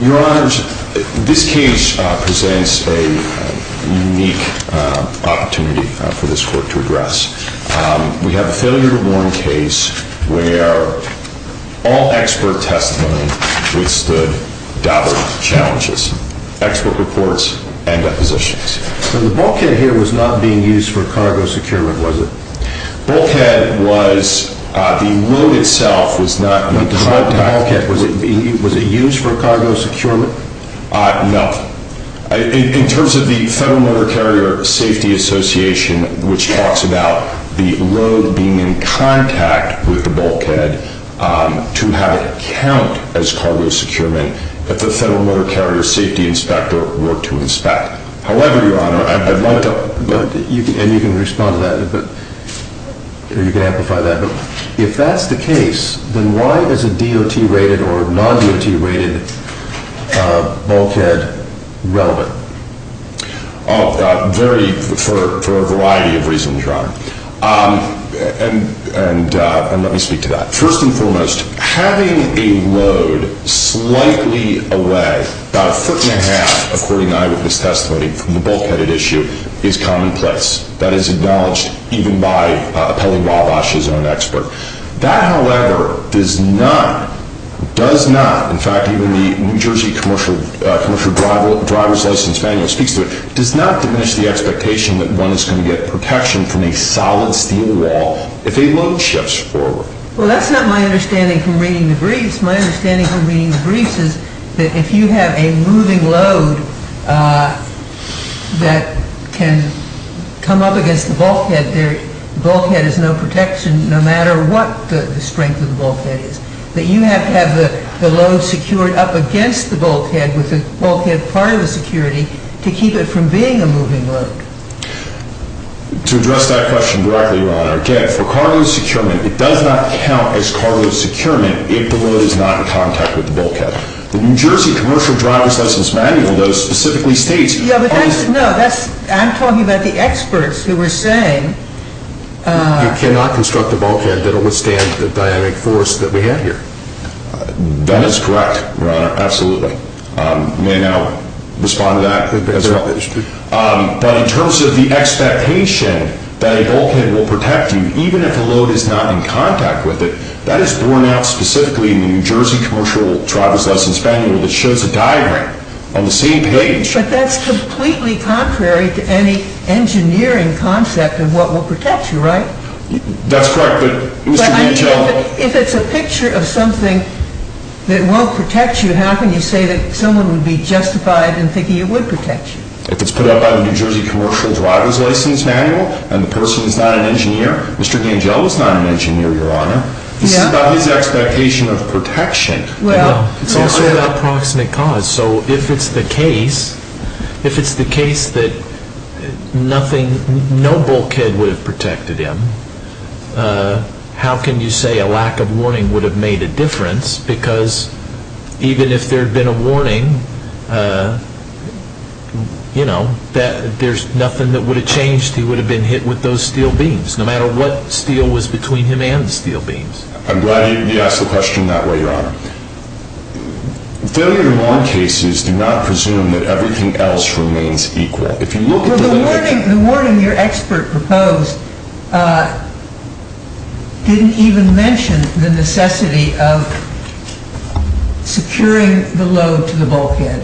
Your Honor, this case presents a unique opportunity for this court to address. We have a failure to warn case where all expert testimony withstood double challenges, expert reports and depositions. The bulkhead here was not being used for cargo securement, was it? The bulkhead was, the load itself was not designed to... Was it used for cargo securement? No. In terms of the Federal Motor Carrier Safety Association, which talks about the load being in contact with the bulkhead to have it count as cargo securement, that the Federal Motor Carrier Safety Inspector worked to inspect. However, Your Honor, I'd like to... And you can respond to that. You can amplify that. If that's the case, then why is a DOT-rated or non-DOT-rated bulkhead relevant? For a variety of reasons, Your Honor. And let me speak to that. First and foremost, having a load slightly away, about a foot and a half, according to my witness testimony from the bulkheaded issue, is commonplace. That is acknowledged even by Appellee Wabash's own expert. That, however, does not, does not, in fact, even the New Jersey Commercial Driver's License Manual speaks to it, does not diminish the expectation that one is going to get protection from a solid steel wall if a load shifts forward. Well, that's not my understanding from reading the briefs. My understanding from reading the briefs is that if you have a moving load that can come up against the bulkhead, the bulkhead is no protection no matter what the strength of the bulkhead is. That you have to have the load secured up against the bulkhead with the bulkhead part of the security to keep it from being a moving load. To address that question directly, Your Honor, again, for cargo securement, it does not count as cargo securement if the load is not in contact with the bulkhead. The New Jersey Commercial Driver's License Manual, though, specifically states... Yeah, but that's, no, that's, I'm talking about the experts who were saying... You cannot construct a bulkhead that will withstand the dynamic force that we have here. That is correct, Your Honor, absolutely. You may now respond to that as well. But in terms of the expectation that a bulkhead will protect you even if the load is not in contact with it, that is borne out specifically in the New Jersey Commercial Driver's License Manual that shows a diagram on the same page. But that's completely contrary to any engineering concept of what will protect you, right? That's correct, but, Mr. Vigel... If it's a picture of something that won't protect you, how can you say that someone would be justified in thinking it would protect you? If it's put up on the New Jersey Commercial Driver's License Manual and the person is not an engineer, Mr. Vigel was not an engineer, Your Honor. This is about his expectation of protection. It's also about proximate cause. So if it's the case that no bulkhead would have protected him, how can you say a lack of warning would have made a difference? Because even if there had been a warning, there's nothing that would have changed. He would have been hit with those steel beams, no matter what steel was between him and the steel beams. I'm glad you asked the question that way, Your Honor. Failure to warn cases do not presume that everything else remains equal. The warning your expert proposed didn't even mention the necessity of securing the load to the bulkhead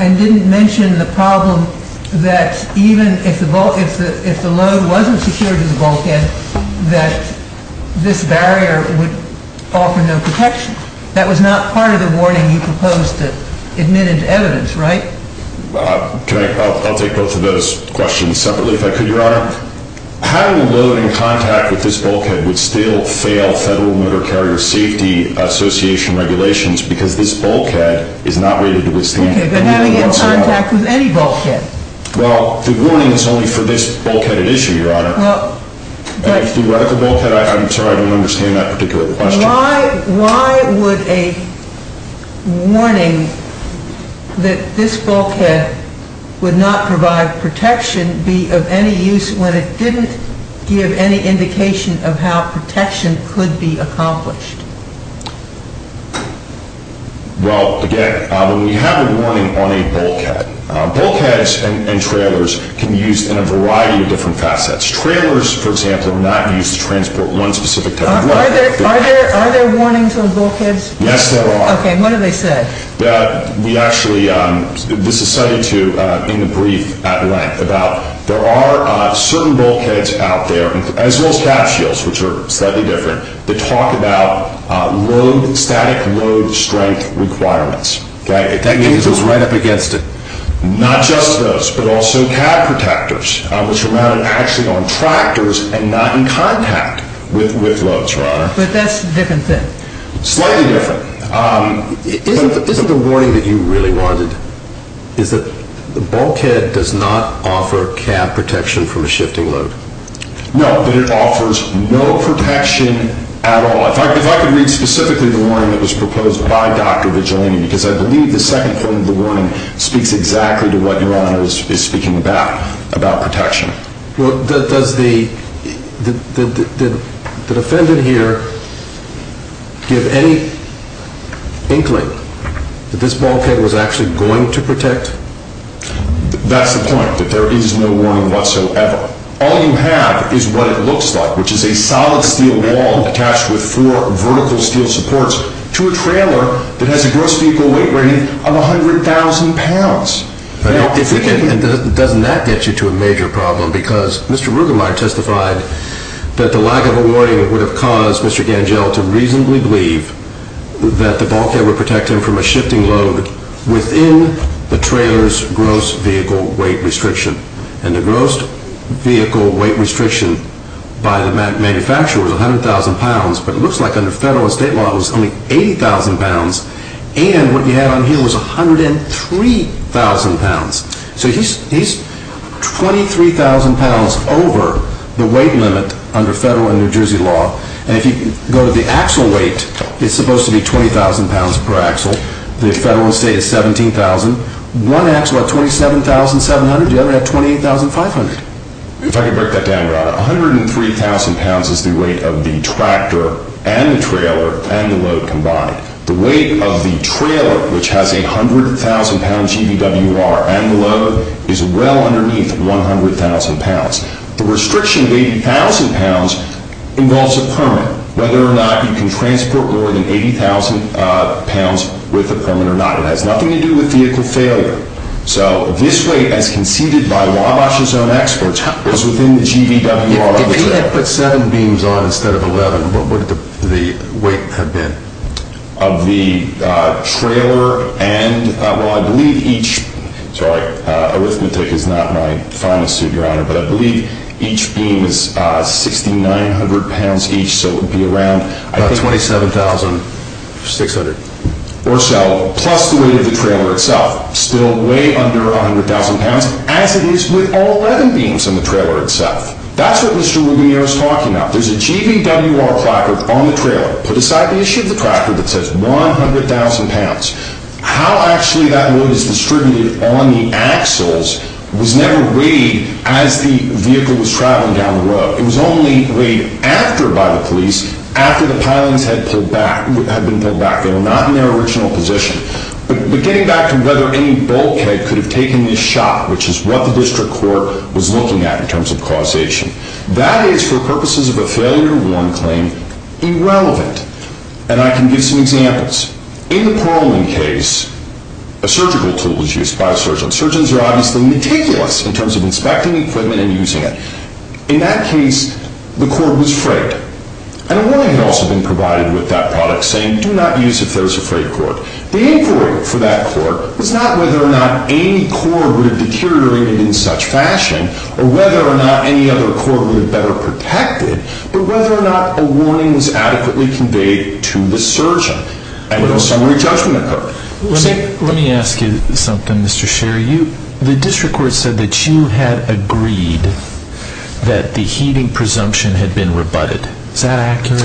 and didn't mention the problem that even if the load wasn't secured to the bulkhead, that this barrier would offer no protection. That was not part of the warning you proposed that admitted to evidence, right? I'll take both of those questions separately if I could, Your Honor. Having a load in contact with this bulkhead would still fail Federal Motor Carrier Safety Association regulations because this bulkhead is not rated to withstand any load. Okay, but having it in contact with any bulkhead? Well, the warning is only for this bulkheaded issue, Your Honor. And if theoretical bulkhead, I'm sorry, I don't understand that particular question. Why would a warning that this bulkhead would not provide protection be of any use when it didn't give any indication of how protection could be accomplished? Well, again, when we have a warning on a bulkhead, bulkheads and trailers can be used in a variety of different facets. Trailers, for example, are not used to transport one specific type of load. Are there warnings on bulkheads? Yes, there are. Okay, what do they say? We actually, this is cited in a brief at length about there are certain bulkheads out there, as well as cab shields, which are slightly different, that talk about static load strength requirements. That means it's right up against it. Not just those, but also cab protectors, which are mounted actually on tractors and not in contact with loads, Your Honor. But that's a different thing. Slightly different. Isn't the warning that you really wanted is that the bulkhead does not offer cab protection from a shifting load? No, but it offers no protection at all. If I could read specifically the warning that was proposed by Dr. Vigilini, because I believe the second point of the warning speaks exactly to what Your Honor is speaking about, about protection. Well, does the defendant here give any inkling that this bulkhead was actually going to protect? That's the point, that there is no warning whatsoever. All you have is what it looks like, which is a solid steel wall attached with four vertical steel supports to a trailer that has a gross vehicle weight rating of 100,000 pounds. Doesn't that get you to a major problem? Because Mr. Rugemeier testified that the lack of a warning would have caused Mr. Gangell to reasonably believe that the bulkhead would protect him from a shifting load within the trailer's gross vehicle weight restriction. And the gross vehicle weight restriction by the manufacturer was 100,000 pounds, but it looks like under federal and state law it was only 80,000 pounds. And what you have on here was 103,000 pounds. So he's 23,000 pounds over the weight limit under federal and New Jersey law. And if you go to the axle weight, it's supposed to be 20,000 pounds per axle. The federal and state is 17,000. One axle at 27,700, the other at 28,500. If I could break that down, Ron, 103,000 pounds is the weight of the tractor and the trailer and the load combined. The weight of the trailer, which has a 100,000-pound GVWR and the load, is well underneath 100,000 pounds. The restriction of 80,000 pounds involves a permit, whether or not you can transport more than 80,000 pounds with a permit or not. It has nothing to do with vehicle failure. So this weight, as conceded by Wabash's own experts, was within the GVWR of the trailer. If he had put seven beams on instead of 11, what would the weight have been? Of the trailer and, well, I believe each—sorry, arithmetic is not my finest suit, Your Honor— but I believe each beam is 6,900 pounds each, so it would be around— About 27,600. Or so, plus the weight of the trailer itself, still way under 100,000 pounds, as it is with all 11 beams on the trailer itself. That's what Mr. Rubinier is talking about. There's a GVWR placard on the trailer, put aside the issue of the tractor, that says 100,000 pounds. How actually that load is distributed on the axles was never weighed as the vehicle was traveling down the road. It was only weighed after, by the police, after the pilings had been pulled back. They were not in their original position. But getting back to whether any bulkhead could have taken this shot, which is what the district court was looking at in terms of causation, that is, for purposes of a failure to warn claim, irrelevant. And I can give some examples. In the Pearlman case, a surgical tool was used by a surgeon. Surgeons are obviously meticulous in terms of inspecting equipment and using it. In that case, the cord was frayed. And a warning had also been provided with that product, saying, do not use if there is a frayed cord. The inquiry for that cord was not whether or not any cord would have deteriorated in such fashion, or whether or not any other cord would have been better protected, but whether or not a warning was adequately conveyed to the surgeon. And a summary judgment occurred. Let me ask you something, Mr. Sherry. The district court said that you had agreed that the heating presumption had been rebutted. Is that accurate?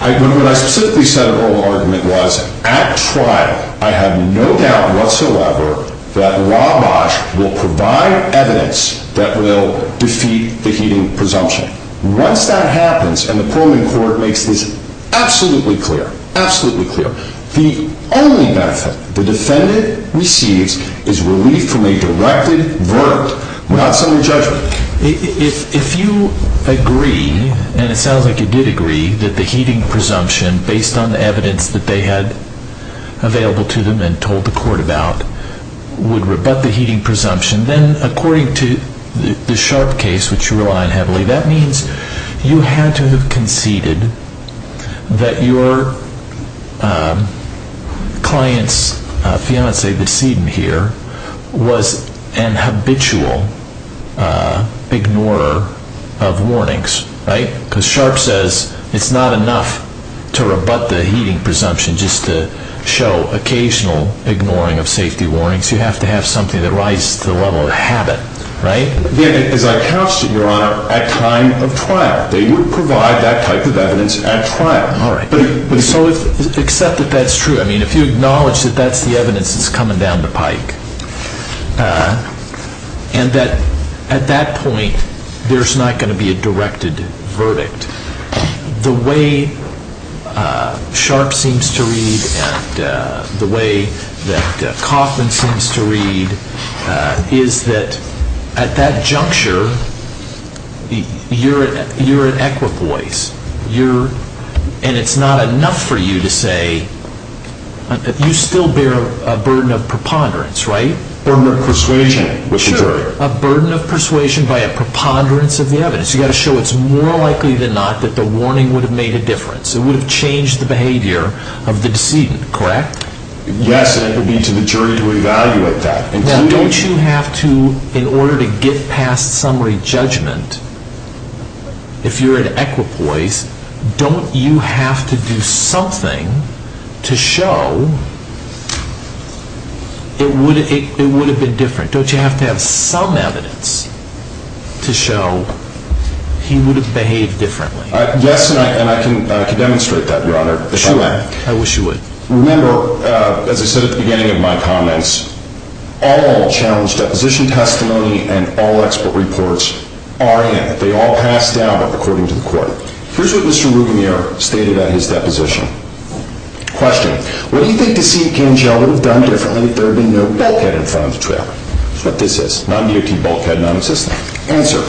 What I specifically said in the oral argument was, at trial, I have no doubt whatsoever that Wabash will provide evidence that will defeat the heating presumption. Once that happens, and the Pearlman court makes this absolutely clear, absolutely clear, the only benefit the defendant receives is relief from a directed verdict without summary judgment. If you agree, and it sounds like you did agree, that the heating presumption, based on the evidence that they had available to them and told the court about, would rebut the heating presumption, then according to the Sharp case, which you rely on heavily, that means you had to have conceded that your client's fiancée, the decedent here, was an habitual ignorer of warnings, right? Because Sharp says it's not enough to rebut the heating presumption just to show occasional ignoring of safety warnings. You have to have something that rises to the level of habit, right? As I couched it, Your Honor, at time of trial. They would provide that type of evidence at trial. All right. Except that that's true. I mean, if you acknowledge that that's the evidence that's coming down the pike and that at that point there's not going to be a directed verdict, the way Sharp seems to read and the way that Kaufman seems to read is that at that juncture you're at equipoise, and it's not enough for you to say you still bear a burden of preponderance, right? A burden of persuasion with the jury. Sure. A burden of persuasion by a preponderance of the evidence. You've got to show it's more likely than not that the warning would have made a difference. It would have changed the behavior of the decedent, correct? Yes, and it would be to the jury to evaluate that. Now, don't you have to, in order to get past summary judgment, if you're at equipoise, don't you have to do something to show it would have been different? Don't you have to have some evidence to show he would have behaved differently? Yes, and I can demonstrate that, Your Honor. I wish you would. Remember, as I said at the beginning of my comments, all challenge deposition testimony and all expert reports are in. They all pass down according to the court. Here's what Mr. Rouganier stated at his deposition. Question. What do you think Deceit Gangel would have done differently if there had been no bulkhead in front of the trial? That's what this is. Non-DOT bulkhead, non-assistant. Answer.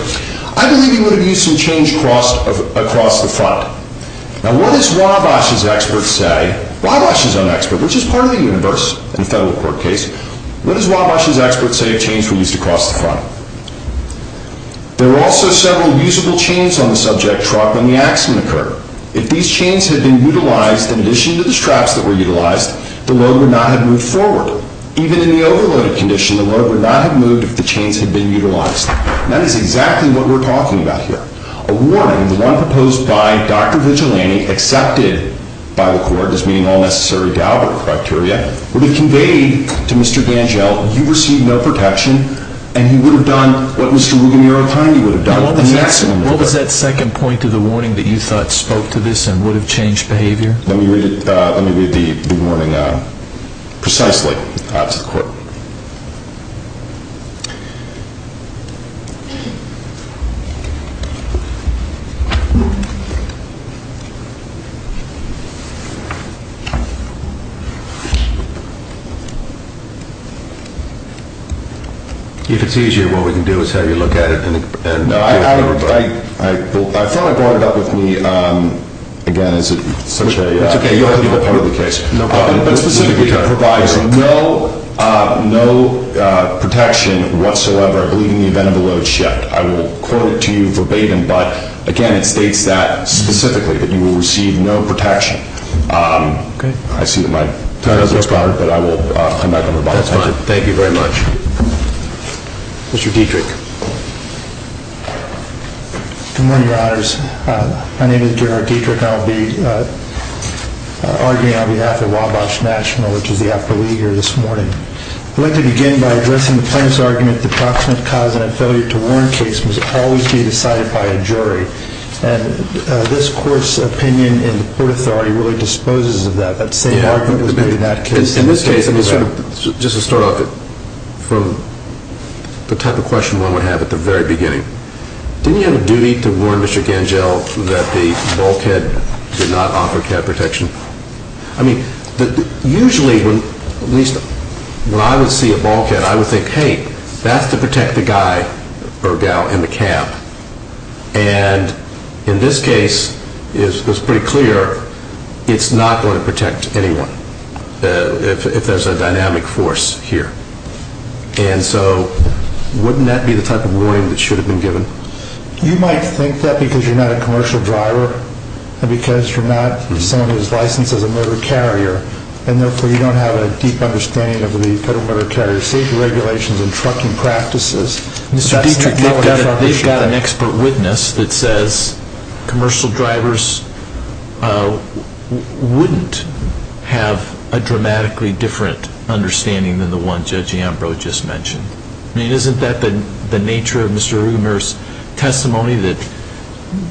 I believe he would have used some change across the front. Now, what does Wabash's expert say? Wabash is an expert, which is part of the universe in a federal court case. What does Wabash's expert say of change we used across the front? There were also several usable chains on the subject truck when the accident occurred. If these chains had been utilized in addition to the straps that were utilized, the load would not have moved forward. Even in the overloaded condition, the load would not have moved if the chains had been utilized. That is exactly what we're talking about here. Question. A warning, the one proposed by Dr. Vigilante, accepted by the court as meeting all necessary Daubert criteria, would have conveyed to Mr. Gangel, you received no protection, and he would have done what Mr. Rouganier or Tindy would have done. What was that second point of the warning that you thought spoke to this and would have changed behavior? Let me read the warning precisely to the court. If it's easier, what we can do is have you look at it. No, I thought I brought it up with me. Again, is it such a – That's okay. You're a part of the case. But specifically, it provides no protection whatsoever, believe me, in the event of a load shift. I will quote it to you verbatim, but again, it states that specifically, that you will receive no protection. Okay. I see that my time has expired, but I will come back on rebuttal. That's fine. Thank you very much. Mr. Dietrich. Good morning, Your Honors. My name is Gerard Dietrich, and I will be arguing on behalf of Wabash National, which is the affiliate here this morning. I'd like to begin by addressing the plaintiff's argument that the proximate cause of that failure to warn case must always be decided by a jury. And this Court's opinion in the court authority really disposes of that. That same argument was made in that case. In this case, just to start off, from the type of question one would have at the very beginning, didn't he have a duty to warn Mr. Gangell that the bulkhead did not offer cab protection? I mean, usually, at least when I would see a bulkhead, I would think, hey, that's to protect the guy or gal in the cab. And in this case, it's pretty clear it's not going to protect anyone if there's a dynamic force here. And so wouldn't that be the type of warning that should have been given? You might think that because you're not a commercial driver and because you're not someone who's licensed as a motor carrier and therefore you don't have a deep understanding of the Federal Motor Carrier Safety Regulations and trucking practices. Mr. Dietrich, they've got an expert witness that says commercial drivers wouldn't have a dramatically different understanding than the one Judge Ambrose just mentioned. I mean, isn't that the nature of Mr. Rueggemer's testimony, that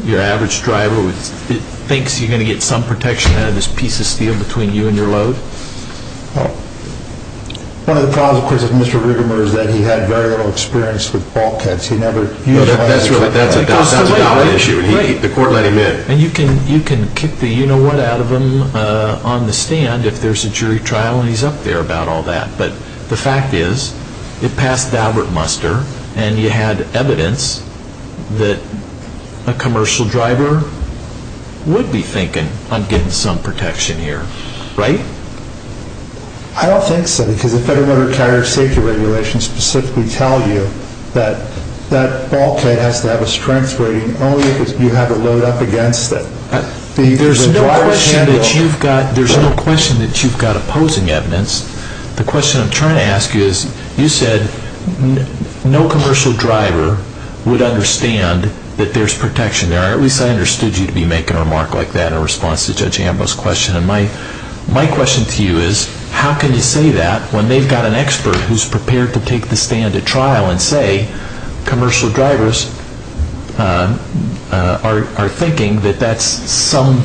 your average driver thinks you're going to get some protection out of this piece of steel between you and your load? One of the problems, of course, with Mr. Rueggemer is that he had very little experience with bulkheads. He never used one. That's right. That's a valid issue. The court let him in. And you can kick the you-know-what out of him on the stand if there's a jury trial and he's up there about all that. But the fact is, it passed Albert Muster, and you had evidence that a commercial driver would be thinking, I'm getting some protection here, right? I don't think so, because the Federal Motor Carrier Safety Regulations specifically tell you that that bulkhead has to have a strength rating only if you have a load up against it. There's no question that you've got opposing evidence. The question I'm trying to ask you is, you said no commercial driver would understand that there's protection there. At least I understood you to be making a remark like that in response to Judge Ambo's question. And my question to you is, how can you say that when they've got an expert who's prepared to take the stand at trial and say commercial drivers are thinking that that's some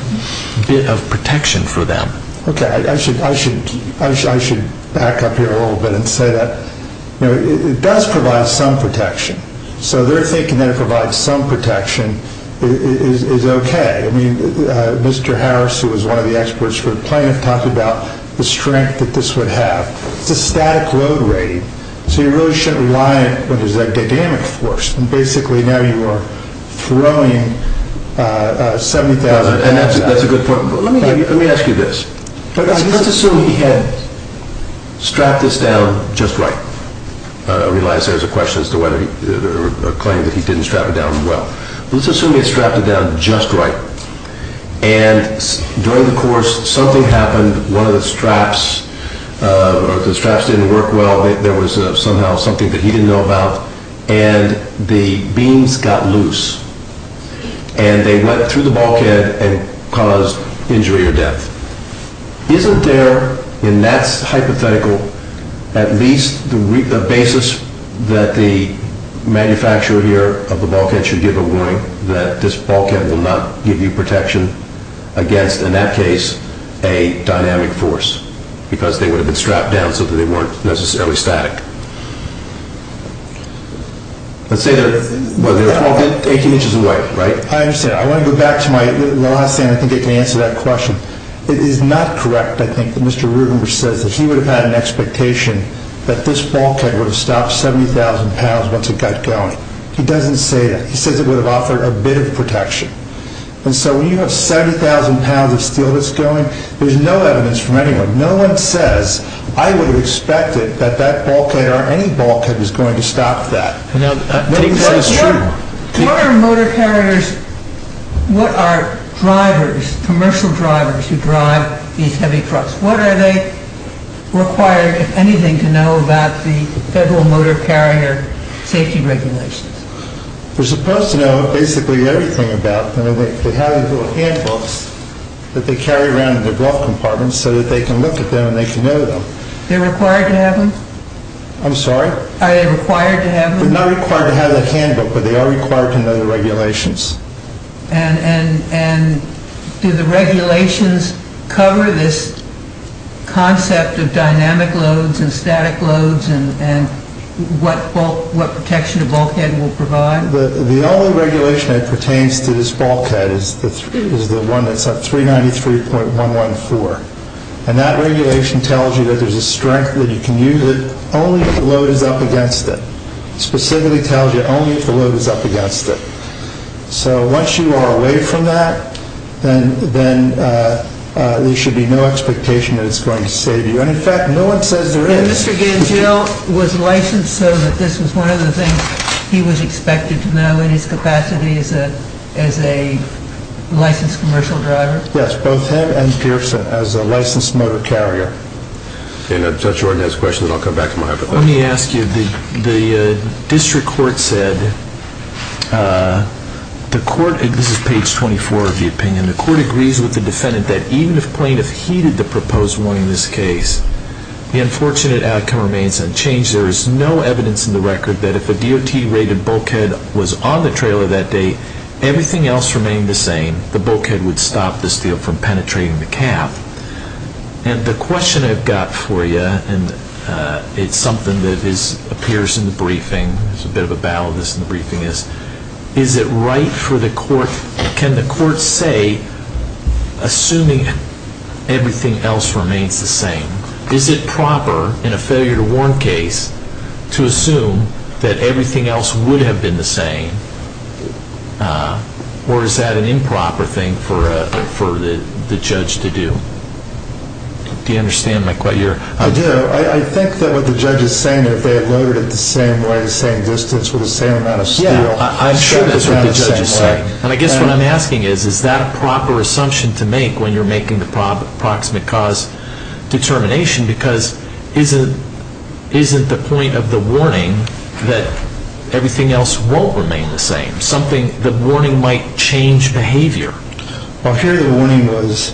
bit of protection for them? Okay, I should back up here a little bit and say that it does provide some protection. So they're thinking that it provides some protection is okay. I mean, Mr. Harris, who was one of the experts for the plaintiff, talked about the strength that this would have. It's a static load rating, so you really shouldn't rely on it when there's a dynamic force. And that's a good point. Let me ask you this. Let's assume he had strapped this down just right. I realize there's a question as to whether he claimed that he didn't strap it down well. Let's assume he had strapped it down just right. And during the course, something happened. One of the straps didn't work well. There was somehow something that he didn't know about. And the beams got loose. And they went through the bulkhead and caused injury or death. Isn't there, in that hypothetical, at least the basis that the manufacturer here of the bulkhead should give a warning that this bulkhead will not give you protection against, in that case, a dynamic force because they would have been strapped down so that they weren't necessarily static? Let's say they're 18 inches away, right? I understand. I want to go back to my last thing. I think I can answer that question. It is not correct, I think, that Mr. Rubenberg says that he would have had an expectation that this bulkhead would have stopped 70,000 pounds once it got going. He doesn't say that. He says it would have offered a bit of protection. And so when you have 70,000 pounds of steel that's going, there's no evidence from anyone. No one says, I would have expected that that bulkhead or any bulkhead was going to stop that. What are motor carriers, what are drivers, commercial drivers who drive these heavy trucks? What are they required, if anything, to know about the Federal Motor Carrier Safety Regulations? They're supposed to know basically everything about them. They have these little handbooks that they carry around in their glove compartments so that they can look at them and they can know them. They're required to have them? I'm sorry? Are they required to have them? They're not required to have the handbook, but they are required to know the regulations. And do the regulations cover this concept of dynamic loads and static loads and what protection a bulkhead will provide? The only regulation that pertains to this bulkhead is the one that's at 393.114. And that regulation tells you that there's a strength that you can use it only if the load is up against it. It specifically tells you only if the load is up against it. So once you are away from that, then there should be no expectation that it's going to save you. And in fact, no one says there is. And Mr. Gangell was licensed so that this was one of the things he was expected to know in his capacity as a licensed commercial driver? Yes, both him and Pearson as a licensed motor carrier. If the judge or attorney has questions, I'll come back to them. Let me ask you, the district court said, this is page 24 of the opinion, the court agrees with the defendant that even if plaintiff heeded the proposed warning in this case, the unfortunate outcome remains unchanged. There is no evidence in the record that if a DOT-rated bulkhead was on the trailer that day, everything else remained the same. The bulkhead would stop the steel from penetrating the cap. And the question I've got for you, and it's something that appears in the briefing, there's a bit of a battle in this in the briefing, is, is it right for the court, can the court say, assuming everything else remains the same, is it proper in a failure to warn case to assume that everything else would have been the same? Or is that an improper thing for the judge to do? Do you understand my question? I do. I think that what the judge is saying, if they had loaded it the same way, the same distance, with the same amount of steel, I'm sure that's what the judge is saying. And I guess what I'm asking is, is that a proper assumption to make when you're making the proximate cause determination? Because isn't the point of the warning that everything else won't remain the same? The warning might change behavior. Well, here the warning was,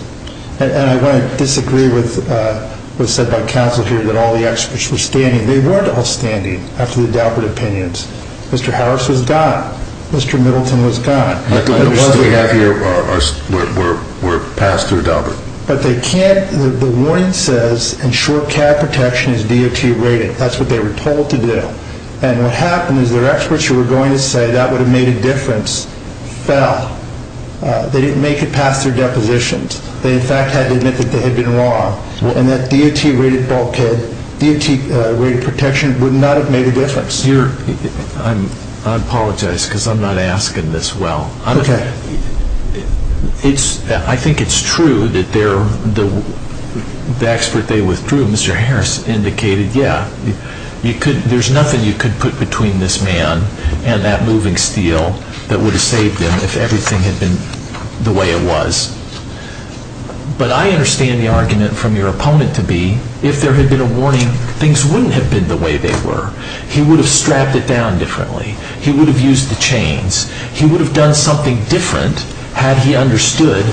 and I want to disagree with what was said by counsel here, that all the experts were standing. They weren't all standing after the doubtful opinions. Mr. Harris was gone. Mr. Middleton was gone. Unless we have your, we're passed through doubt. But they can't, the warning says ensure CAD protection is DOT rated. That's what they were told to do. And what happened is their experts who were going to say that would have made a difference fell. They didn't make it past their depositions. They in fact had to admit that they had been wrong. And that DOT rated bulkhead, DOT rated protection would not have made a difference. I apologize because I'm not asking this well. Okay. I think it's true that the expert they withdrew, Mr. Harris, indicated, yeah, there's nothing you could put between this man and that moving steel that would have saved them if everything had been the way it was. But I understand the argument from your opponent to be, if there had been a warning, things wouldn't have been the way they were. He would have strapped it down differently. He would have used the chains. He would have done something different had he understood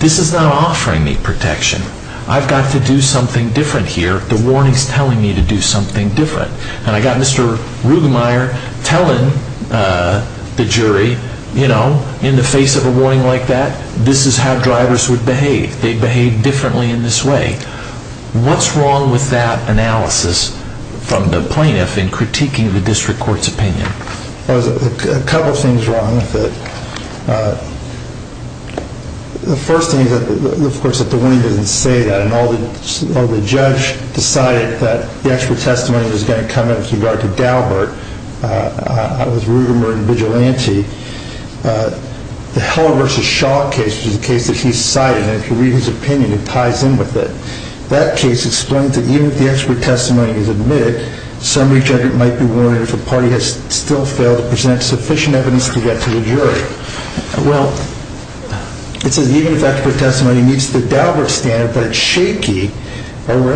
this is not offering me protection. I've got to do something different here. The warning's telling me to do something different. And I got Mr. Rugemeier telling the jury, you know, in the face of a warning like that, this is how drivers would behave. They'd behave differently in this way. What's wrong with that analysis from the plaintiff in critiquing the district court's opinion? There's a couple of things wrong with it. The first thing is, of course, that the warning doesn't say that, and although the judge decided that the expert testimony was going to come in with regard to Daubert, that was Rugemeier and Vigilante, the Heller v. Shaw case, which is a case that he's cited, and if you read his opinion, it ties in with it. That case explains that even if the expert testimony is admitted, some reach agent might be warned if a party has still failed to present sufficient evidence to get to the jury. Well, it says even if expert testimony meets the Daubert standard, but it's shaky, or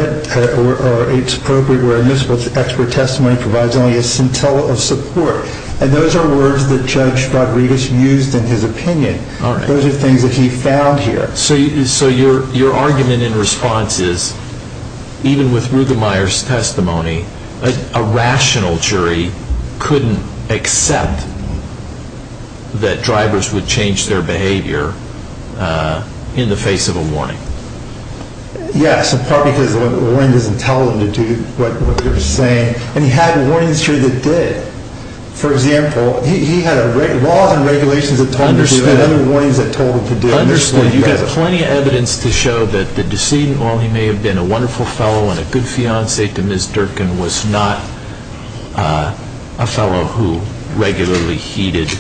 it's appropriate where admissible expert testimony provides only a scintilla of support. And those are words that Judge Rodriguez used in his opinion. Those are things that he found here. So your argument in response is, even with Rugemeier's testimony, a rational jury couldn't accept that drivers would change their behavior in the face of a warning? Yes, in part because the warning doesn't tell them to do what they're saying, and he had warnings here that did. For example, he had laws and regulations that told him to do other warnings that told him to do. Understood. You've got plenty of evidence to show that the decedent, while he may have been a wonderful fellow and a good fiancé to Ms. Durkin, was not a fellow who regularly heeded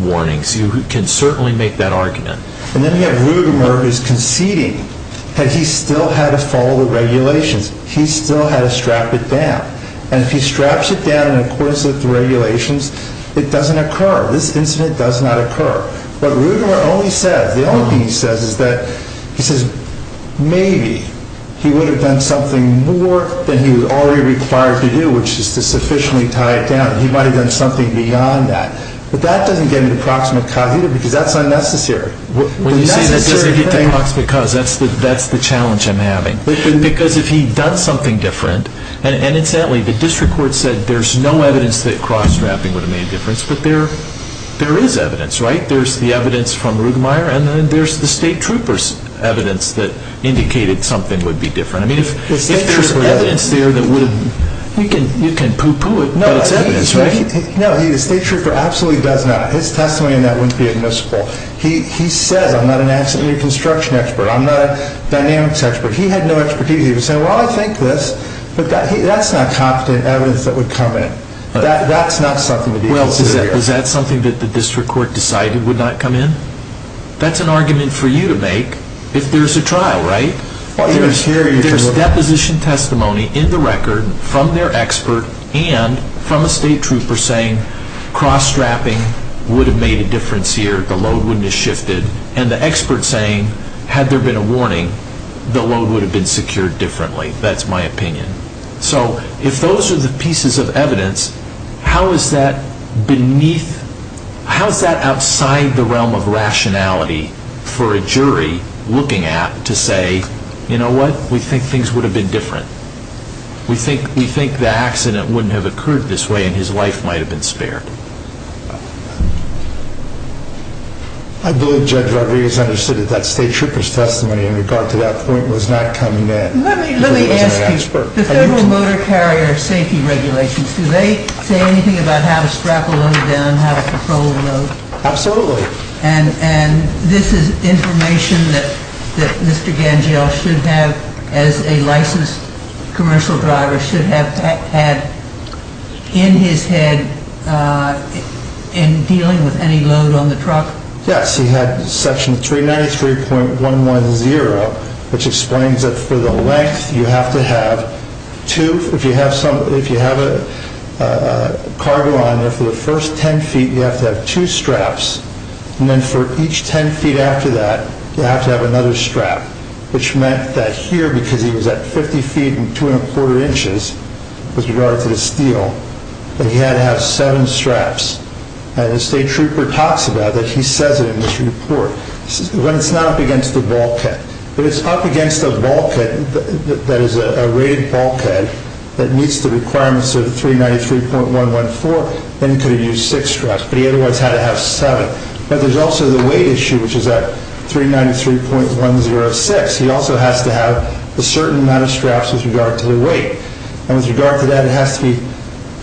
warnings. You can certainly make that argument. And then you have Rugemeier who's conceding that he still had to follow the regulations. He still had to strap it down. And if he straps it down in accordance with the regulations, it doesn't occur. This incident does not occur. What Rugemeier only says, the only thing he says is that, he says maybe he would have done something more than he was already required to do, which is to sufficiently tie it down. He might have done something beyond that. But that doesn't get me to proximate cause either, because that's unnecessary. When you say that doesn't get to proximate cause, that's the challenge I'm having. Because if he'd done something different, and incidentally, the district court said there's no evidence that cross-strapping would have made a difference, but there is evidence, right? There's the evidence from Rugemeier, and then there's the state trooper's evidence that indicated something would be different. I mean, if there's evidence there that would have, you can poo-poo it, but it's evidence, right? No, the state trooper absolutely does not. His testimony on that wouldn't be admissible. He says, I'm not an accident reconstruction expert, I'm not a dynamics expert. If he had no expertise, he would say, well, I think this, but that's not competent evidence that would come in. That's not something to be considered here. Well, is that something that the district court decided would not come in? That's an argument for you to make if there's a trial, right? There's deposition testimony in the record from their expert and from a state trooper saying cross-strapping would have made a difference here, the load wouldn't have shifted, and the expert saying had there been a warning, the load would have been secured differently. That's my opinion. So if those are the pieces of evidence, how is that beneath, how is that outside the realm of rationality for a jury looking at to say, you know what? We think things would have been different. We think the accident wouldn't have occurred this way and his life might have been spared. I believe Judge Rodriguez understood that that state trooper's testimony in regard to that point was not coming in. Let me ask you, the Federal Motor Carrier Safety Regulations, do they say anything about how to strap a load down, how to control a load? Absolutely. And this is information that Mr. Gangell should have as a licensed commercial driver, should have had in his head in dealing with any load on the truck? Yes. He had section 393.110, which explains that for the length, you have to have two, if you have a cargo on there for the first 10 feet, you have to have two straps, and then for each 10 feet after that, you have to have another strap, which meant that here, because he was at 50 feet and two and a quarter inches with regard to the steel, that he had to have seven straps. And the state trooper talks about that. He says it in his report. It's not up against the bulkhead. If it's up against a bulkhead, that is a rated bulkhead that meets the requirements of 393.114, then he could have used six straps, but he otherwise had to have seven. But there's also the weight issue, which is at 393.106. He also has to have a certain amount of straps with regard to the weight, and with regard to that, it has to be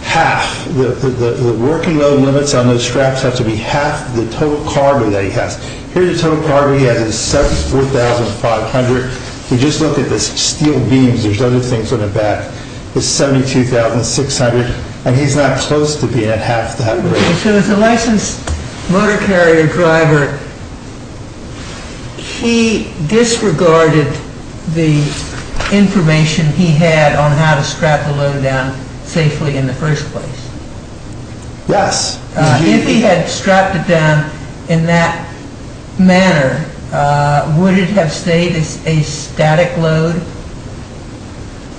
half. The working load limits on those straps have to be half the total cargo that he has. Here's the total cargo he has. It's 74,500. If you just look at the steel beams, there's other things on the back. It's 72,600, and he's not close to being at half that weight. So as a licensed motor carrier driver, he disregarded the information he had on how to strap the load down safely in the first place. Yes. If he had strapped it down in that manner, would it have stayed as a static load?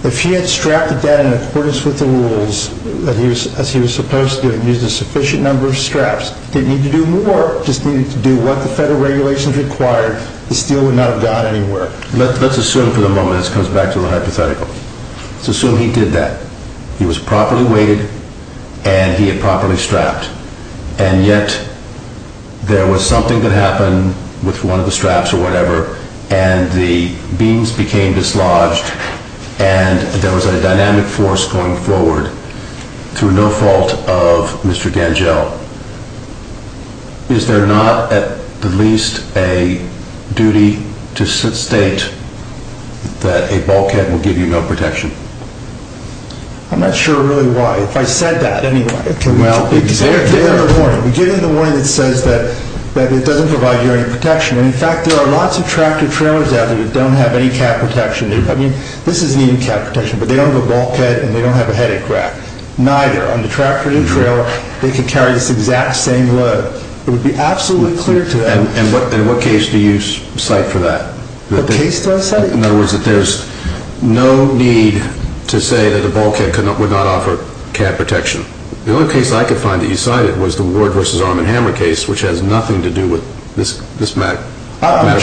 If he had strapped it down in accordance with the rules, as he was supposed to have used a sufficient number of straps, didn't need to do more, just needed to do what the federal regulations required, the steel would not have gone anywhere. Let's assume for the moment this comes back to the hypothetical. Let's assume he did that. He was properly weighted, and he had properly strapped, and yet there was something that happened with one of the straps or whatever, and the beams became dislodged, and there was a dynamic force going forward through no fault of Mr. Gangell. Is there not at the least a duty to state that a bulkhead will give you no protection? I'm not sure really why. If I said that, anyway, it would be too late. Well, we get it in the morning. We get it in the morning that says that it doesn't provide you any protection. In fact, there are lots of tractor trailers out there that don't have any cab protection. I mean, this is needed cab protection, but they don't have a bulkhead, and they don't have a headache rack. Neither. On the tractor and trailer, they could carry this exact same load. It would be absolutely clear to them. And what case do you cite for that? What case do I cite? In other words, that there's no need to say that a bulkhead would not offer cab protection. The only case I could find that you cited was the Ward v. Arm & Hammer case, which has nothing to do with this matter,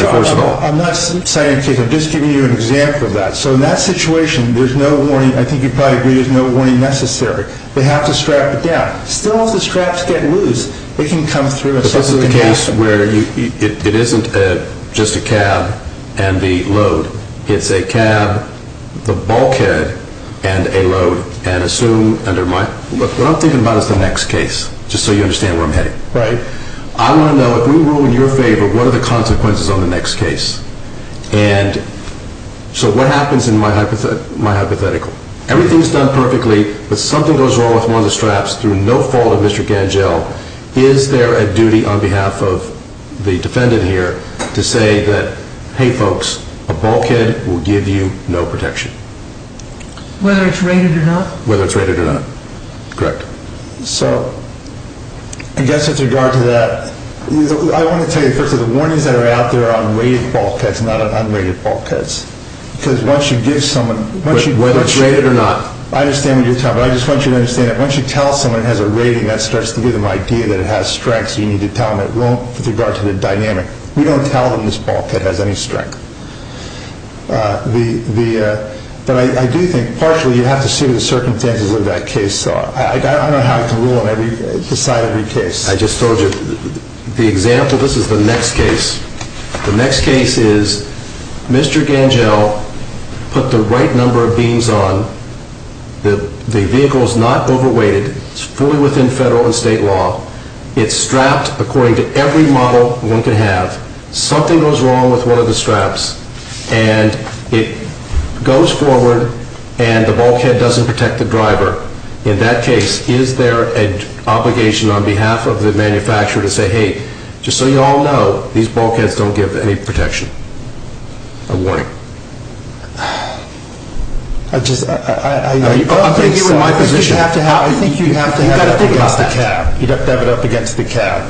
first of all. I'm not citing a case. I'm just giving you an example of that. So in that situation, there's no warning. I think you'd probably agree there's no warning necessary. They have to strap it down. Still, if the straps get loose, it can come through. But this is the case where it isn't just a cab and the load. It's a cab, the bulkhead, and a load. And assume under my – what I'm thinking about is the next case, just so you understand where I'm heading. Right. I want to know, if we rule in your favor, what are the consequences on the next case? And so what happens in my hypothetical? Everything's done perfectly, but something goes wrong with one of the straps through no fault of Mr. Gangell. Is there a duty on behalf of the defendant here to say that, hey, folks, a bulkhead will give you no protection? Whether it's rated or not? Whether it's rated or not. Correct. So I guess with regard to that, I want to tell you, first of all, the warnings that are out there are on rated bulkheads, not on unrated bulkheads. Because once you give someone – Whether it's rated or not. I understand what you're talking about. I just want you to understand that once you tell someone it has a rating, that starts to give them an idea that it has strength, so you need to tell them it won't with regard to the dynamic. We don't tell them this bulkhead has any strength. But I do think partially you have to see what the circumstances of that case are. I don't know how I can rule beside every case. I just told you. The example – this is the next case. The next case is Mr. Gangell put the right number of beams on. The vehicle is not overweighted. It's fully within federal and state law. It's strapped according to every model one can have. Something goes wrong with one of the straps, and it goes forward, and the bulkhead doesn't protect the driver. In that case, is there an obligation on behalf of the manufacturer to say, hey, just so you all know, these bulkheads don't give any protection or warning? I just – I'm going to give you my position. I think you have to have – You've got to think about that. You've got to have it up against the cab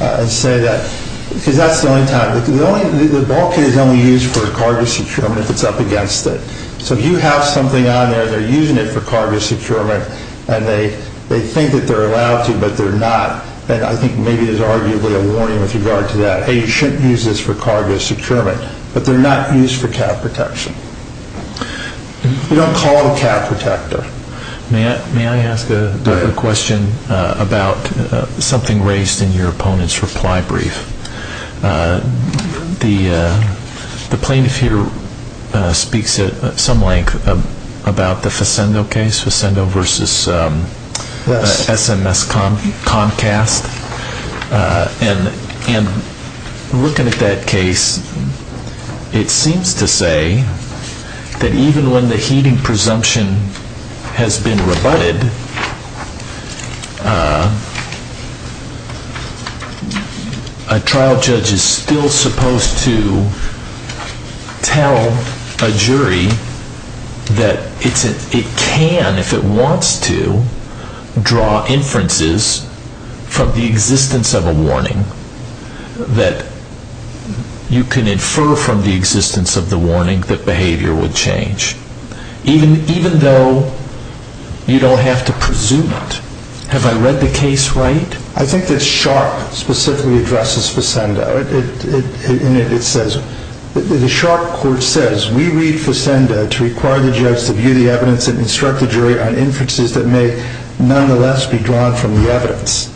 and say that. Because that's the only time. The bulkhead is only used for cargo securement if it's up against it. So if you have something on there, they're using it for cargo securement, and they think that they're allowed to, but they're not. And I think maybe there's arguably a warning with regard to that. Hey, you shouldn't use this for cargo securement. But they're not used for cab protection. You don't call it a cab protector. May I ask a question about something raised in your opponent's reply brief? The plaintiff here speaks at some length about the Facendo case, Facendo v. SMS Comcast, and looking at that case, it seems to say that even when the heeding presumption has been rebutted, a trial judge is still supposed to tell a jury that it can, if it wants to, draw inferences from the existence of a warning, that you can infer from the existence of the warning that behavior would change, even though you don't have to presume it. Have I read the case right? I think that Sharp specifically addresses Facendo, and it says, The Sharp court says, We read Facendo to require the judge to view the evidence and instruct the jury on inferences that may nonetheless be drawn from the evidence.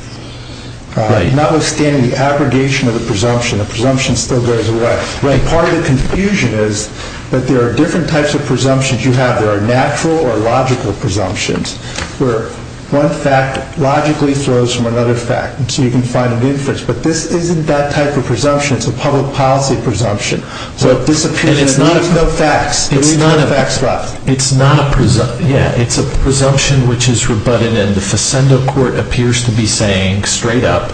Notwithstanding the abrogation of the presumption, the presumption still goes away. Part of the confusion is that there are different types of presumptions you have. There are natural or logical presumptions, where one fact logically flows from another fact, and so you can find an inference. But this isn't that type of presumption. It's a public policy presumption. And it's not a presumption. It's a presumption which is rebutted, and then the Facendo court appears to be saying straight up,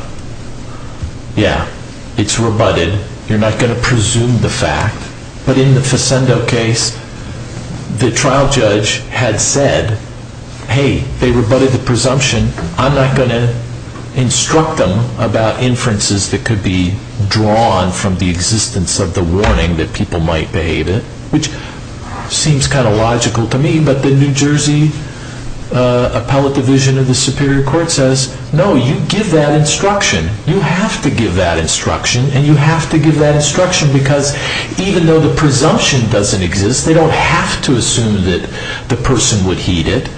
Yeah, it's rebutted. You're not going to presume the fact. But in the Facendo case, the trial judge had said, Hey, they rebutted the presumption. I'm not going to instruct them about inferences that could be drawn from the existence of the warning that people might behave it, which seems kind of logical to me, but the New Jersey Appellate Division of the Superior Court says, No, you give that instruction. You have to give that instruction, and you have to give that instruction, because even though the presumption doesn't exist, they don't have to assume that the person would heed it.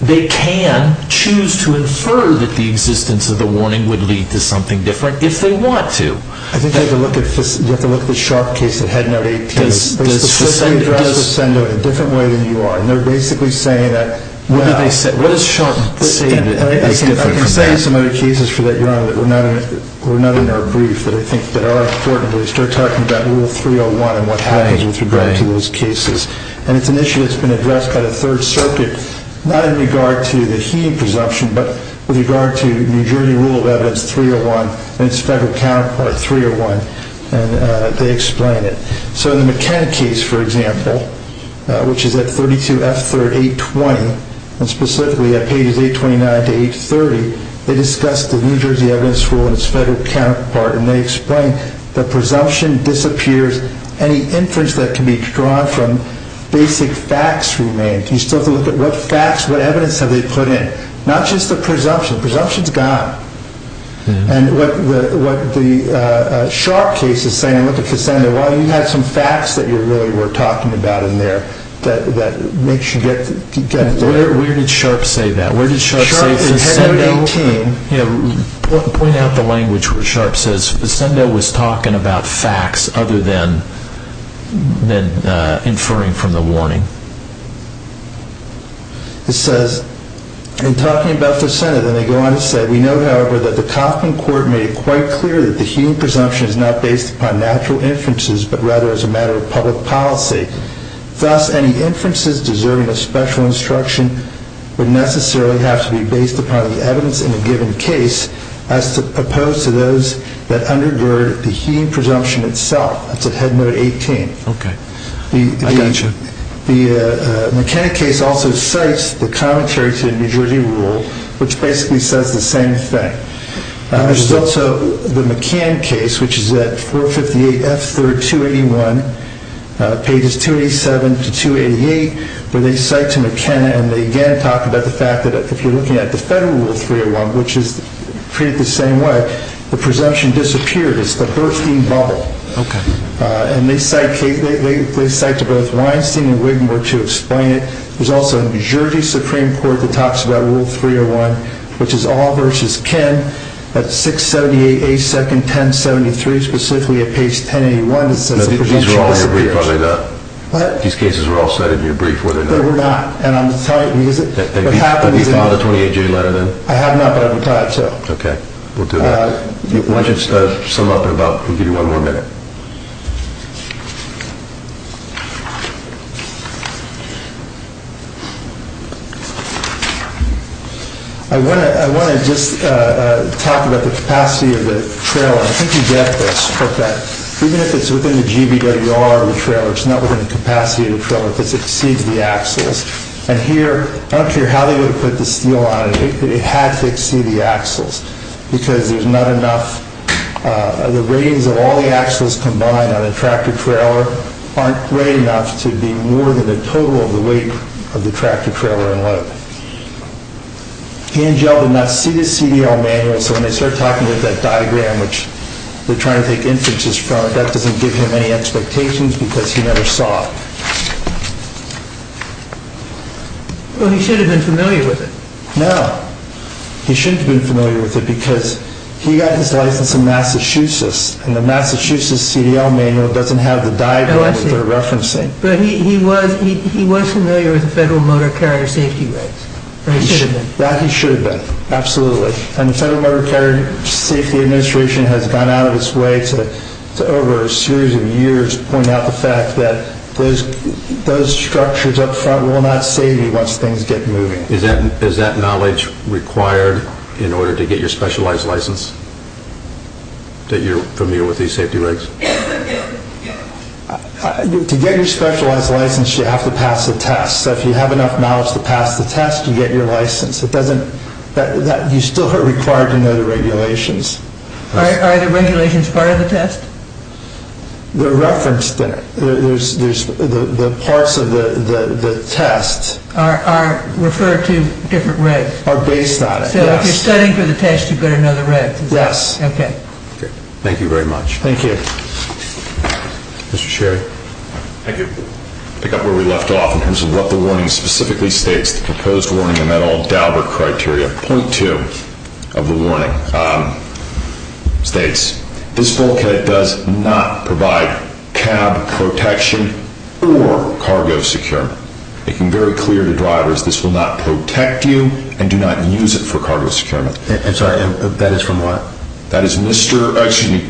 They can choose to infer that the existence of the warning would lead to something different if they want to. I think you have to look at the Sharp case that had no date. They specifically address Facendo in a different way than you are, and they're basically saying that, What is Sharp saying that is different from that? I can say in some other cases for that you're on, that we're not in our brief, that I think that are important, but they start talking about Rule 301 and what happens with regard to those cases, and it's an issue that's been addressed by the Third Circuit, not in regard to the heeding presumption, but with regard to New Jersey Rule of Evidence 301 and its federal counterpart, 301, and they explain it. So in the McKenna case, for example, which is at 32F3rd, 820, and specifically at pages 829 to 830, they discuss the New Jersey Evidence Rule and its federal counterpart, and they explain that presumption disappears any inference that can be drawn from basic facts remained. You still have to look at what facts, what evidence have they put in? Not just the presumption. Presumption's gone. And what the Sharp case is saying, while you have some facts that you really were talking about in there that makes you get... Where did Sharp say that? Where did Sharp say... Sharp in 118... Point out the language where Sharp says Facendo was talking about facts other than inferring from the warning. It says, in talking about Facendo, then they go on to say, we know, however, that the Coffman Court made it quite clear that the heeding presumption is not based upon natural inferences, but rather as a matter of public policy. Thus, any inferences deserving of special instruction would necessarily have to be based upon the evidence in a given case as opposed to those that undergird the heeding presumption itself. That's at Head Note 18. Okay. I got you. The McKenna case also cites the commentary to the New Jersey Rule, which basically says the same thing. There's also the McKenna case, which is at 458 F. 3rd, 281, pages 287 to 288, where they cite to McKenna, and they again talk about the fact that if you're looking at the Federal Rule 301, which is treated the same way, the presumption disappeared. It's the Hurstein bubble. Okay. And they cite to both Weinstein and Wigmore to explain it. There's also New Jersey Supreme Court that talks about Rule 301, which is all versus Ken, at 678 A. 2nd, 1073, specifically at page 1081, it says the presumption disappeared. These cases were all set in your brief, were they not? They were not. And I'm going to tell you, because what happens is... Have you filed a 28-J letter then? I have not, but I would like to. Okay. We'll do that. Why don't you sum up in about... We'll give you one more minute. I want to just talk about the capacity of the trailer. I think you get this. Even if it's within the GBWR of the trailer, it's not within the capacity of the trailer because it exceeds the axles. And here, I don't care how they would put the steel on it, it had to exceed the axles because there's not enough... The capacities of all the axles combined on a tractor-trailer aren't great enough to be more than the total of the weight of the tractor-trailer and load. Angel did not see the CDL manual, so when they start talking about that diagram, which they're trying to take inferences from, that doesn't give him any expectations because he never saw it. Well, he should have been familiar with it. No. He shouldn't have been familiar with it because he got his license in Massachusetts, and the Massachusetts CDL manual doesn't have the diagram that they're referencing. But he was familiar with the Federal Motor Carrier Safety Regs, or he should have been. He should have been, absolutely. And the Federal Motor Carrier Safety Administration has gone out of its way to, over a series of years, point out the fact that those structures up front will not save you once things get moving. Is that knowledge required in order to get your specialized license, that you're familiar with these safety regs? To get your specialized license, you have to pass the test. So if you have enough knowledge to pass the test, you get your license. You still are required to know the regulations. Are the regulations part of the test? They're referenced in it. The parts of the test... are referred to different regs. Are based on it, yes. So if you're studying for the test, you've got to know the regs. Yes. Okay. Thank you very much. Thank you. Mr. Sherry. Thank you. To pick up where we left off in terms of what the warning specifically states, the proposed warning in that old Daubert criteria, point two of the warning states, this bulkhead does not provide cab protection or cargo secure, making very clear to drivers, this will not protect you and do not use it for cargo secure. I'm sorry. That is from what? That is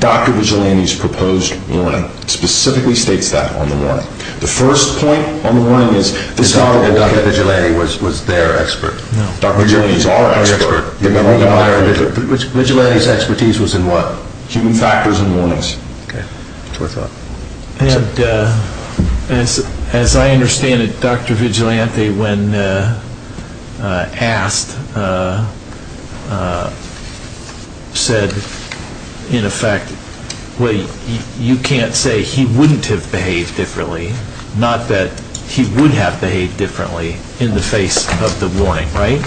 Dr. Vigilante's proposed warning. It specifically states that on the warning. The first point on the warning is... Dr. Vigilante was their expert. Dr. Vigilante is our expert. Vigilante's expertise was in what? Human factors and warnings. Okay. That's what I thought. As I understand it, Dr. Vigilante, when asked, said, in effect, you can't say he wouldn't have behaved differently, not that he would have behaved differently in the face of the warning, right?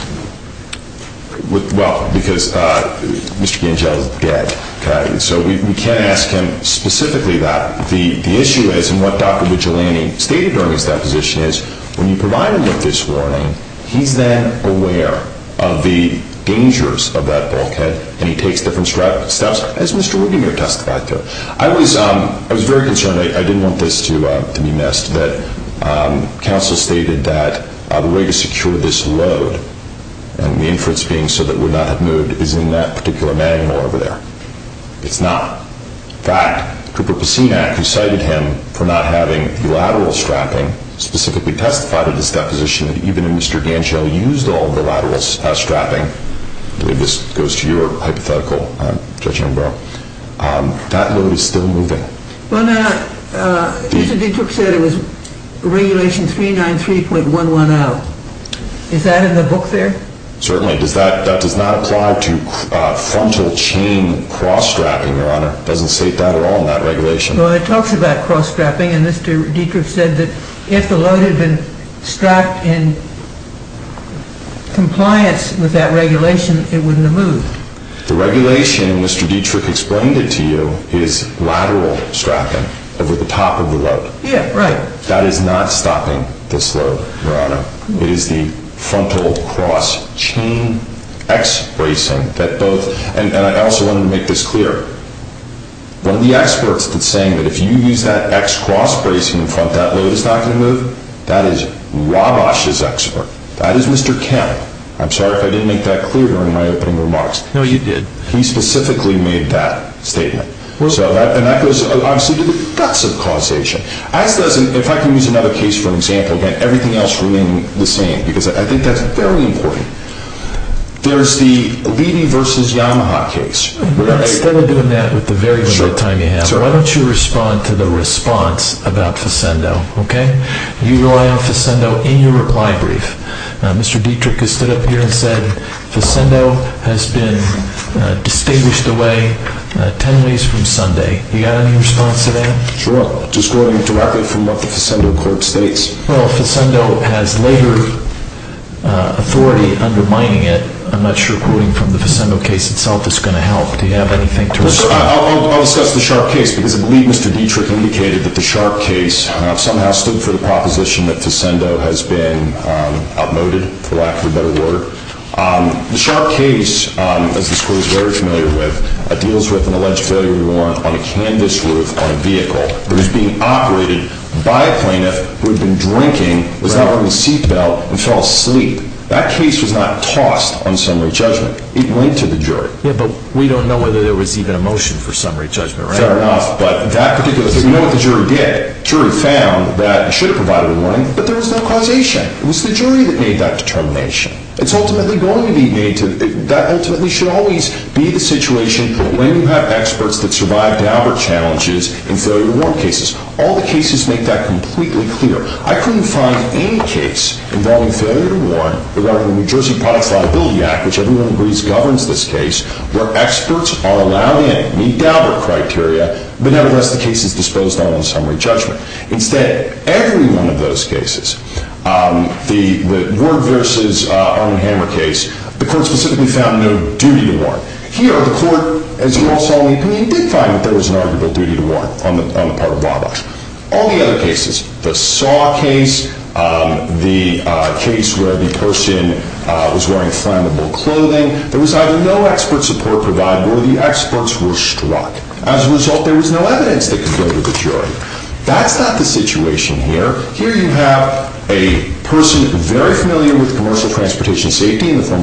Well, because Mr. Vigilante is dead. Okay. So we can't ask him specifically that. The issue is, and what Dr. Vigilante stated during his deposition is, when you provide him with this warning, he's then aware of the dangers of that bulkhead and he takes different steps, as Mr. Wigandier testified to. I was very concerned. I didn't want this to be missed, that counsel stated that the way to secure this load, and the inference being so that it would not have moved, is in that particular manual over there. It's not. In fact, Cooper Pacinac, who cited him for not having the lateral strapping, specifically testified in his deposition that even Mr. Ganshow used all the lateral strapping, I believe this goes to your hypothetical, Judge Ambrose, that load is still moving. Well, now, Mr. DeTrook said it was regulation 393.110. Is that in the book there? Certainly. That does not apply to frontal chain cross-strapping, Your Honor. It doesn't state that at all in that regulation. Well, it talks about cross-strapping, and Mr. DeTrook said that if the load had been strapped in compliance with that regulation, it wouldn't have moved. The regulation, Mr. DeTrook explained it to you, is lateral strapping over the top of the load. Yeah, right. That is not stopping this load, Your Honor. It is the frontal cross-chain X-bracing. And I also wanted to make this clear. One of the experts that's saying that if you use that X cross-bracing in front, that load is not going to move, that is Wabash's expert. That is Mr. Kemp. I'm sorry if I didn't make that clear during my opening remarks. No, you did. He specifically made that statement. And that goes, obviously, to the guts of causation. If I can use another case for an example, and everything else remaining the same, because I think that's very important. There's the Levy v. Yamaha case. Instead of doing that with the very limited time you have, why don't you respond to the response about Facendo, okay? You rely on Facendo in your reply brief. Mr. DeTrook has stood up here and said, Facendo has been distinguished away 10 days from Sunday. You got any response to that? Sure. Just going directly from what the Facendo court states. Well, Facendo has labor authority undermining it. I'm not sure quoting from the Facendo case itself is going to help. Do you have anything to respond? I'll discuss the Sharpe case, because I believe Mr. DeTrook indicated that the Sharpe case somehow stood for the proposition that Facendo has been outmoded, for lack of a better word. The Sharpe case, as the school is very familiar with, deals with an alleged failure to warrant on a canvas roof on a vehicle that was being operated by a plaintiff who had been drinking, was not wearing a seat belt, and fell asleep. That case was not tossed on summary judgment. It went to the jury. Yeah, but we don't know whether there was even a motion for summary judgment, right? Fair enough. But that particular case, we know what the jury did. The jury found that it should have provided a warrant, but there was no causation. It was the jury that made that determination. It's ultimately going to be made to – that ultimately should always be the situation when you have experts that survive Daubert challenges in failure to warrant cases. All the cases make that completely clear. I couldn't find any case involving failure to warrant that went under the New Jersey Products Liability Act, which everyone agrees governs this case, where experts are allowed in, meet Daubert criteria, but nevertheless the case is disposed on in summary judgment. Instead, every one of those cases, the Ward v. Armand Hammer case, the court specifically found no duty to warrant. Here, the court, as you all saw when you came in, did find that there was an arguable duty to warrant on the part of Wabash. All the other cases, the Saw case, the case where the person was wearing flammable clothing, there was either no expert support provided or the experts were struck. As a result, there was no evidence that could go to the jury. That's not the situation here. Here you have a person very familiar with commercial transportation safety, meets all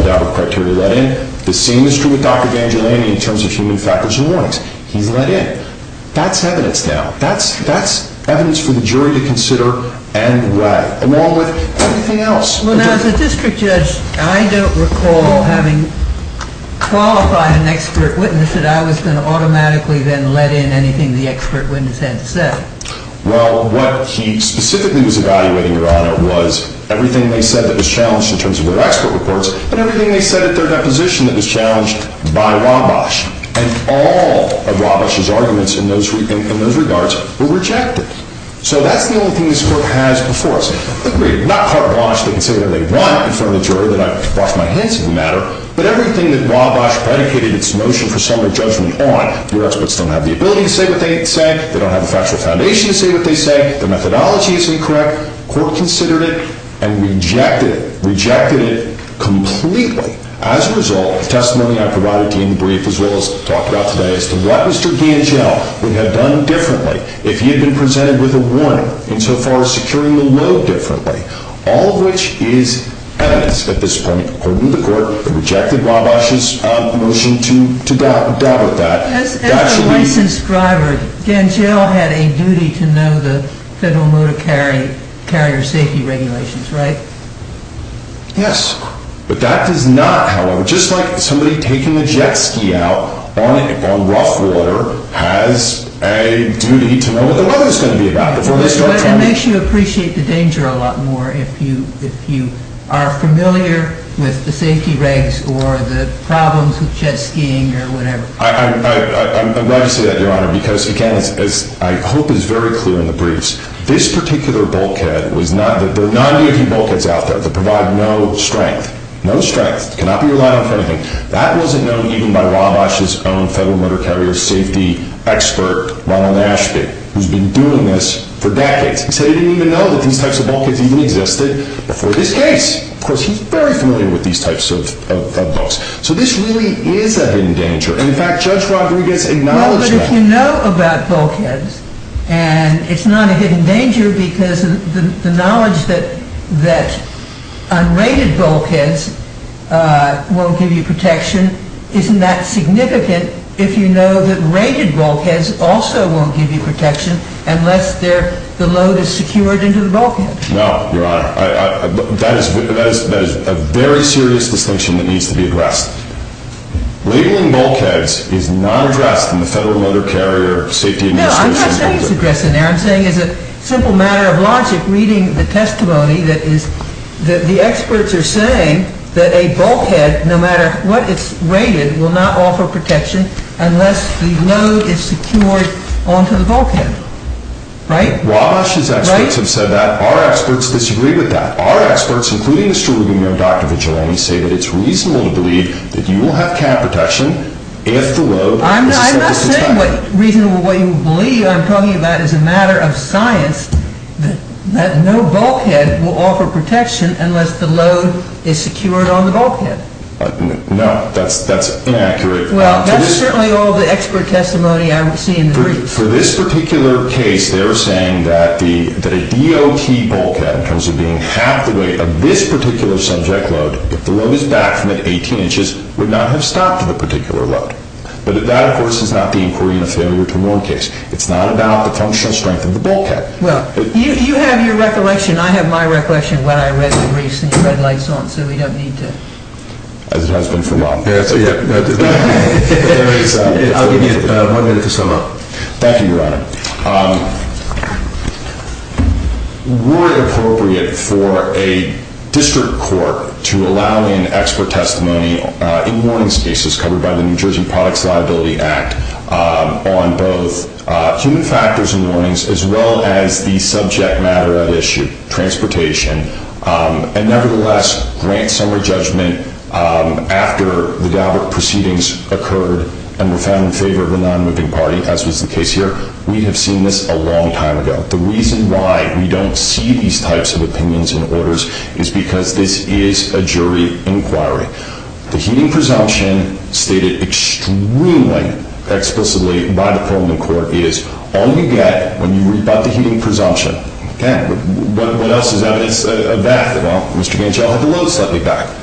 Daubert criteria, let in. The same is true with Dr. Vangeliani in terms of human factors and warnings. He's let in. That's evidence now. That's evidence for the jury to consider and weigh, along with everything else. Well, now, as a district judge, I don't recall having qualified an expert witness that I was going to automatically then let in anything the expert witness had to say. Well, what he specifically was evaluating, Your Honor, was everything they said that was challenged in terms of their expert reports and everything they said at their deposition that was challenged by Wabash. And all of Wabash's arguments in those regards were rejected. So that's the only thing this Court has before us. Agreed. Not part of Wabash. They can say what they want in front of the jury. Then I wash my hands of the matter. But everything that Wabash predicated its notion for summary judgment on, your experts don't have the ability to say what they say. They don't have a factual foundation to say what they say. Their methodology is incorrect. The Court considered it and rejected it. Rejected it completely. As a result of testimony I provided to you in the brief, as well as talked about today, as to what Mr. Gangell would have done differently if he had been presented with a warning insofar as securing the load differently, all of which is evidence at this point, according to the Court, that rejected Wabash's notion to deal with that. As a licensed driver, Gangell had a duty to know the Federal Motor Carrier Safety Regulations, right? Yes. But that does not, however, just like somebody taking a jet ski out on rough water has a duty to know what the weather is going to be like before they start driving. It makes you appreciate the danger a lot more if you are familiar with the safety regs or the problems with jet skiing or whatever. I'm glad you say that, Your Honor, because, again, as I hope is very clear in the briefs, this particular bulkhead was not, there are not any bulkheads out there that provide no strength. No strength. Cannot be relied on for anything. That wasn't known even by Wabash's own Federal Motor Carrier Safety expert, Ronald Ashby, who's been doing this for decades. He said he didn't even know that these types of bulkheads even existed before this case. Of course, he's very familiar with these types of boats. So this really is a hidden danger. In fact, Judge Rodriguez acknowledged that. Well, but if you know about bulkheads, and it's not a hidden danger because the knowledge that unrated bulkheads won't give you protection isn't that significant if you know that rated bulkheads also won't give you protection unless the load is secured into the bulkhead. No, Your Honor. That is a very serious distinction that needs to be addressed. Labeling bulkheads is not addressed in the Federal Motor Carrier Safety Administration's... No, I'm not saying it's addressed in there. I'm saying it's a simple matter of logic reading the testimony that the experts are saying that a bulkhead, no matter what it's rated, will not offer protection unless the load is secured onto the bulkhead. Right? Wabash's experts have said that. Our experts disagree with that. Our experts, including Mr. Rubin and Dr. Vigilani, say that it's reasonable to believe that you will have cap protection if the load... I'm not saying reasonable what you believe. I'm talking about as a matter of science that no bulkhead will offer protection unless the load is secured on the bulkhead. No, that's inaccurate. Well, that's certainly all the expert testimony I've seen. For this particular case, they're saying that a DOT bulkhead, in terms of being half the weight of this particular subject load, if the load is back from at 18 inches, would not have stopped the particular load. But that, of course, is not the inquiry in a failure to warn case. It's not about the functional strength of the bulkhead. Well, you have your recollection. I have my recollection when I read the briefs and your red lights on, so we don't need to... As it has been for a while. I'll give you one minute to sum up. Thank you, Your Honor. Were it appropriate for a district court to allow in expert testimony in warnings cases covered by the New Jersey Products Liability Act on both human factors and warnings as well as the subject matter at issue, transportation, and nevertheless grant summary judgment after the DABRA proceedings occurred and were found in favor of the non-moving party, as was the case here, we have seen this a long time ago. The reason why we don't see these types of opinions and orders is because this is a jury inquiry. The heeding presumption, stated extremely explicitly by the Pullman Court, is all you get when you rebut the heeding presumption. What else is evidence of that? Well, Mr. Gangell had the load slightly back.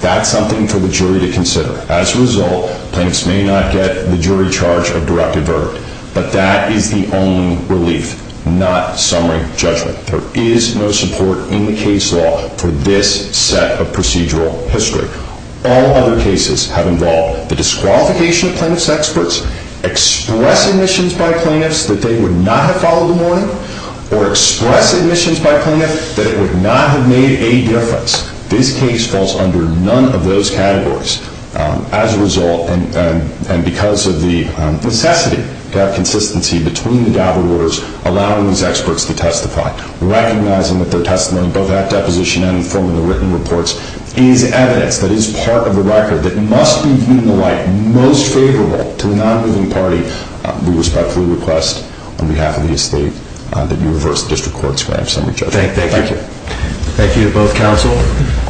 That's something for the jury to consider. As a result, plaintiffs may not get the jury charge of directive verdict. But that is the only relief, not summary judgment. There is no support in the case law for this set of procedural history. All other cases have involved the disqualification of plaintiffs' experts, express admissions by plaintiffs that they would not have followed the warning, or express admissions by plaintiffs that it would not have made a difference. This case falls under none of those categories. As a result, and because of the necessity to have consistency between the double orders, allowing these experts to testify, recognizing that their testimony, both at deposition and in the form of the written reports, is evidence that is part of the record that must be viewed in the light most favorable to the non-moving party, we respectfully request, on behalf of the estate, that you reverse the district court's summary judgment. Thank you. Thank you to both counsel.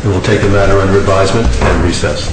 We will take a matter under advisement and recess. Thank you.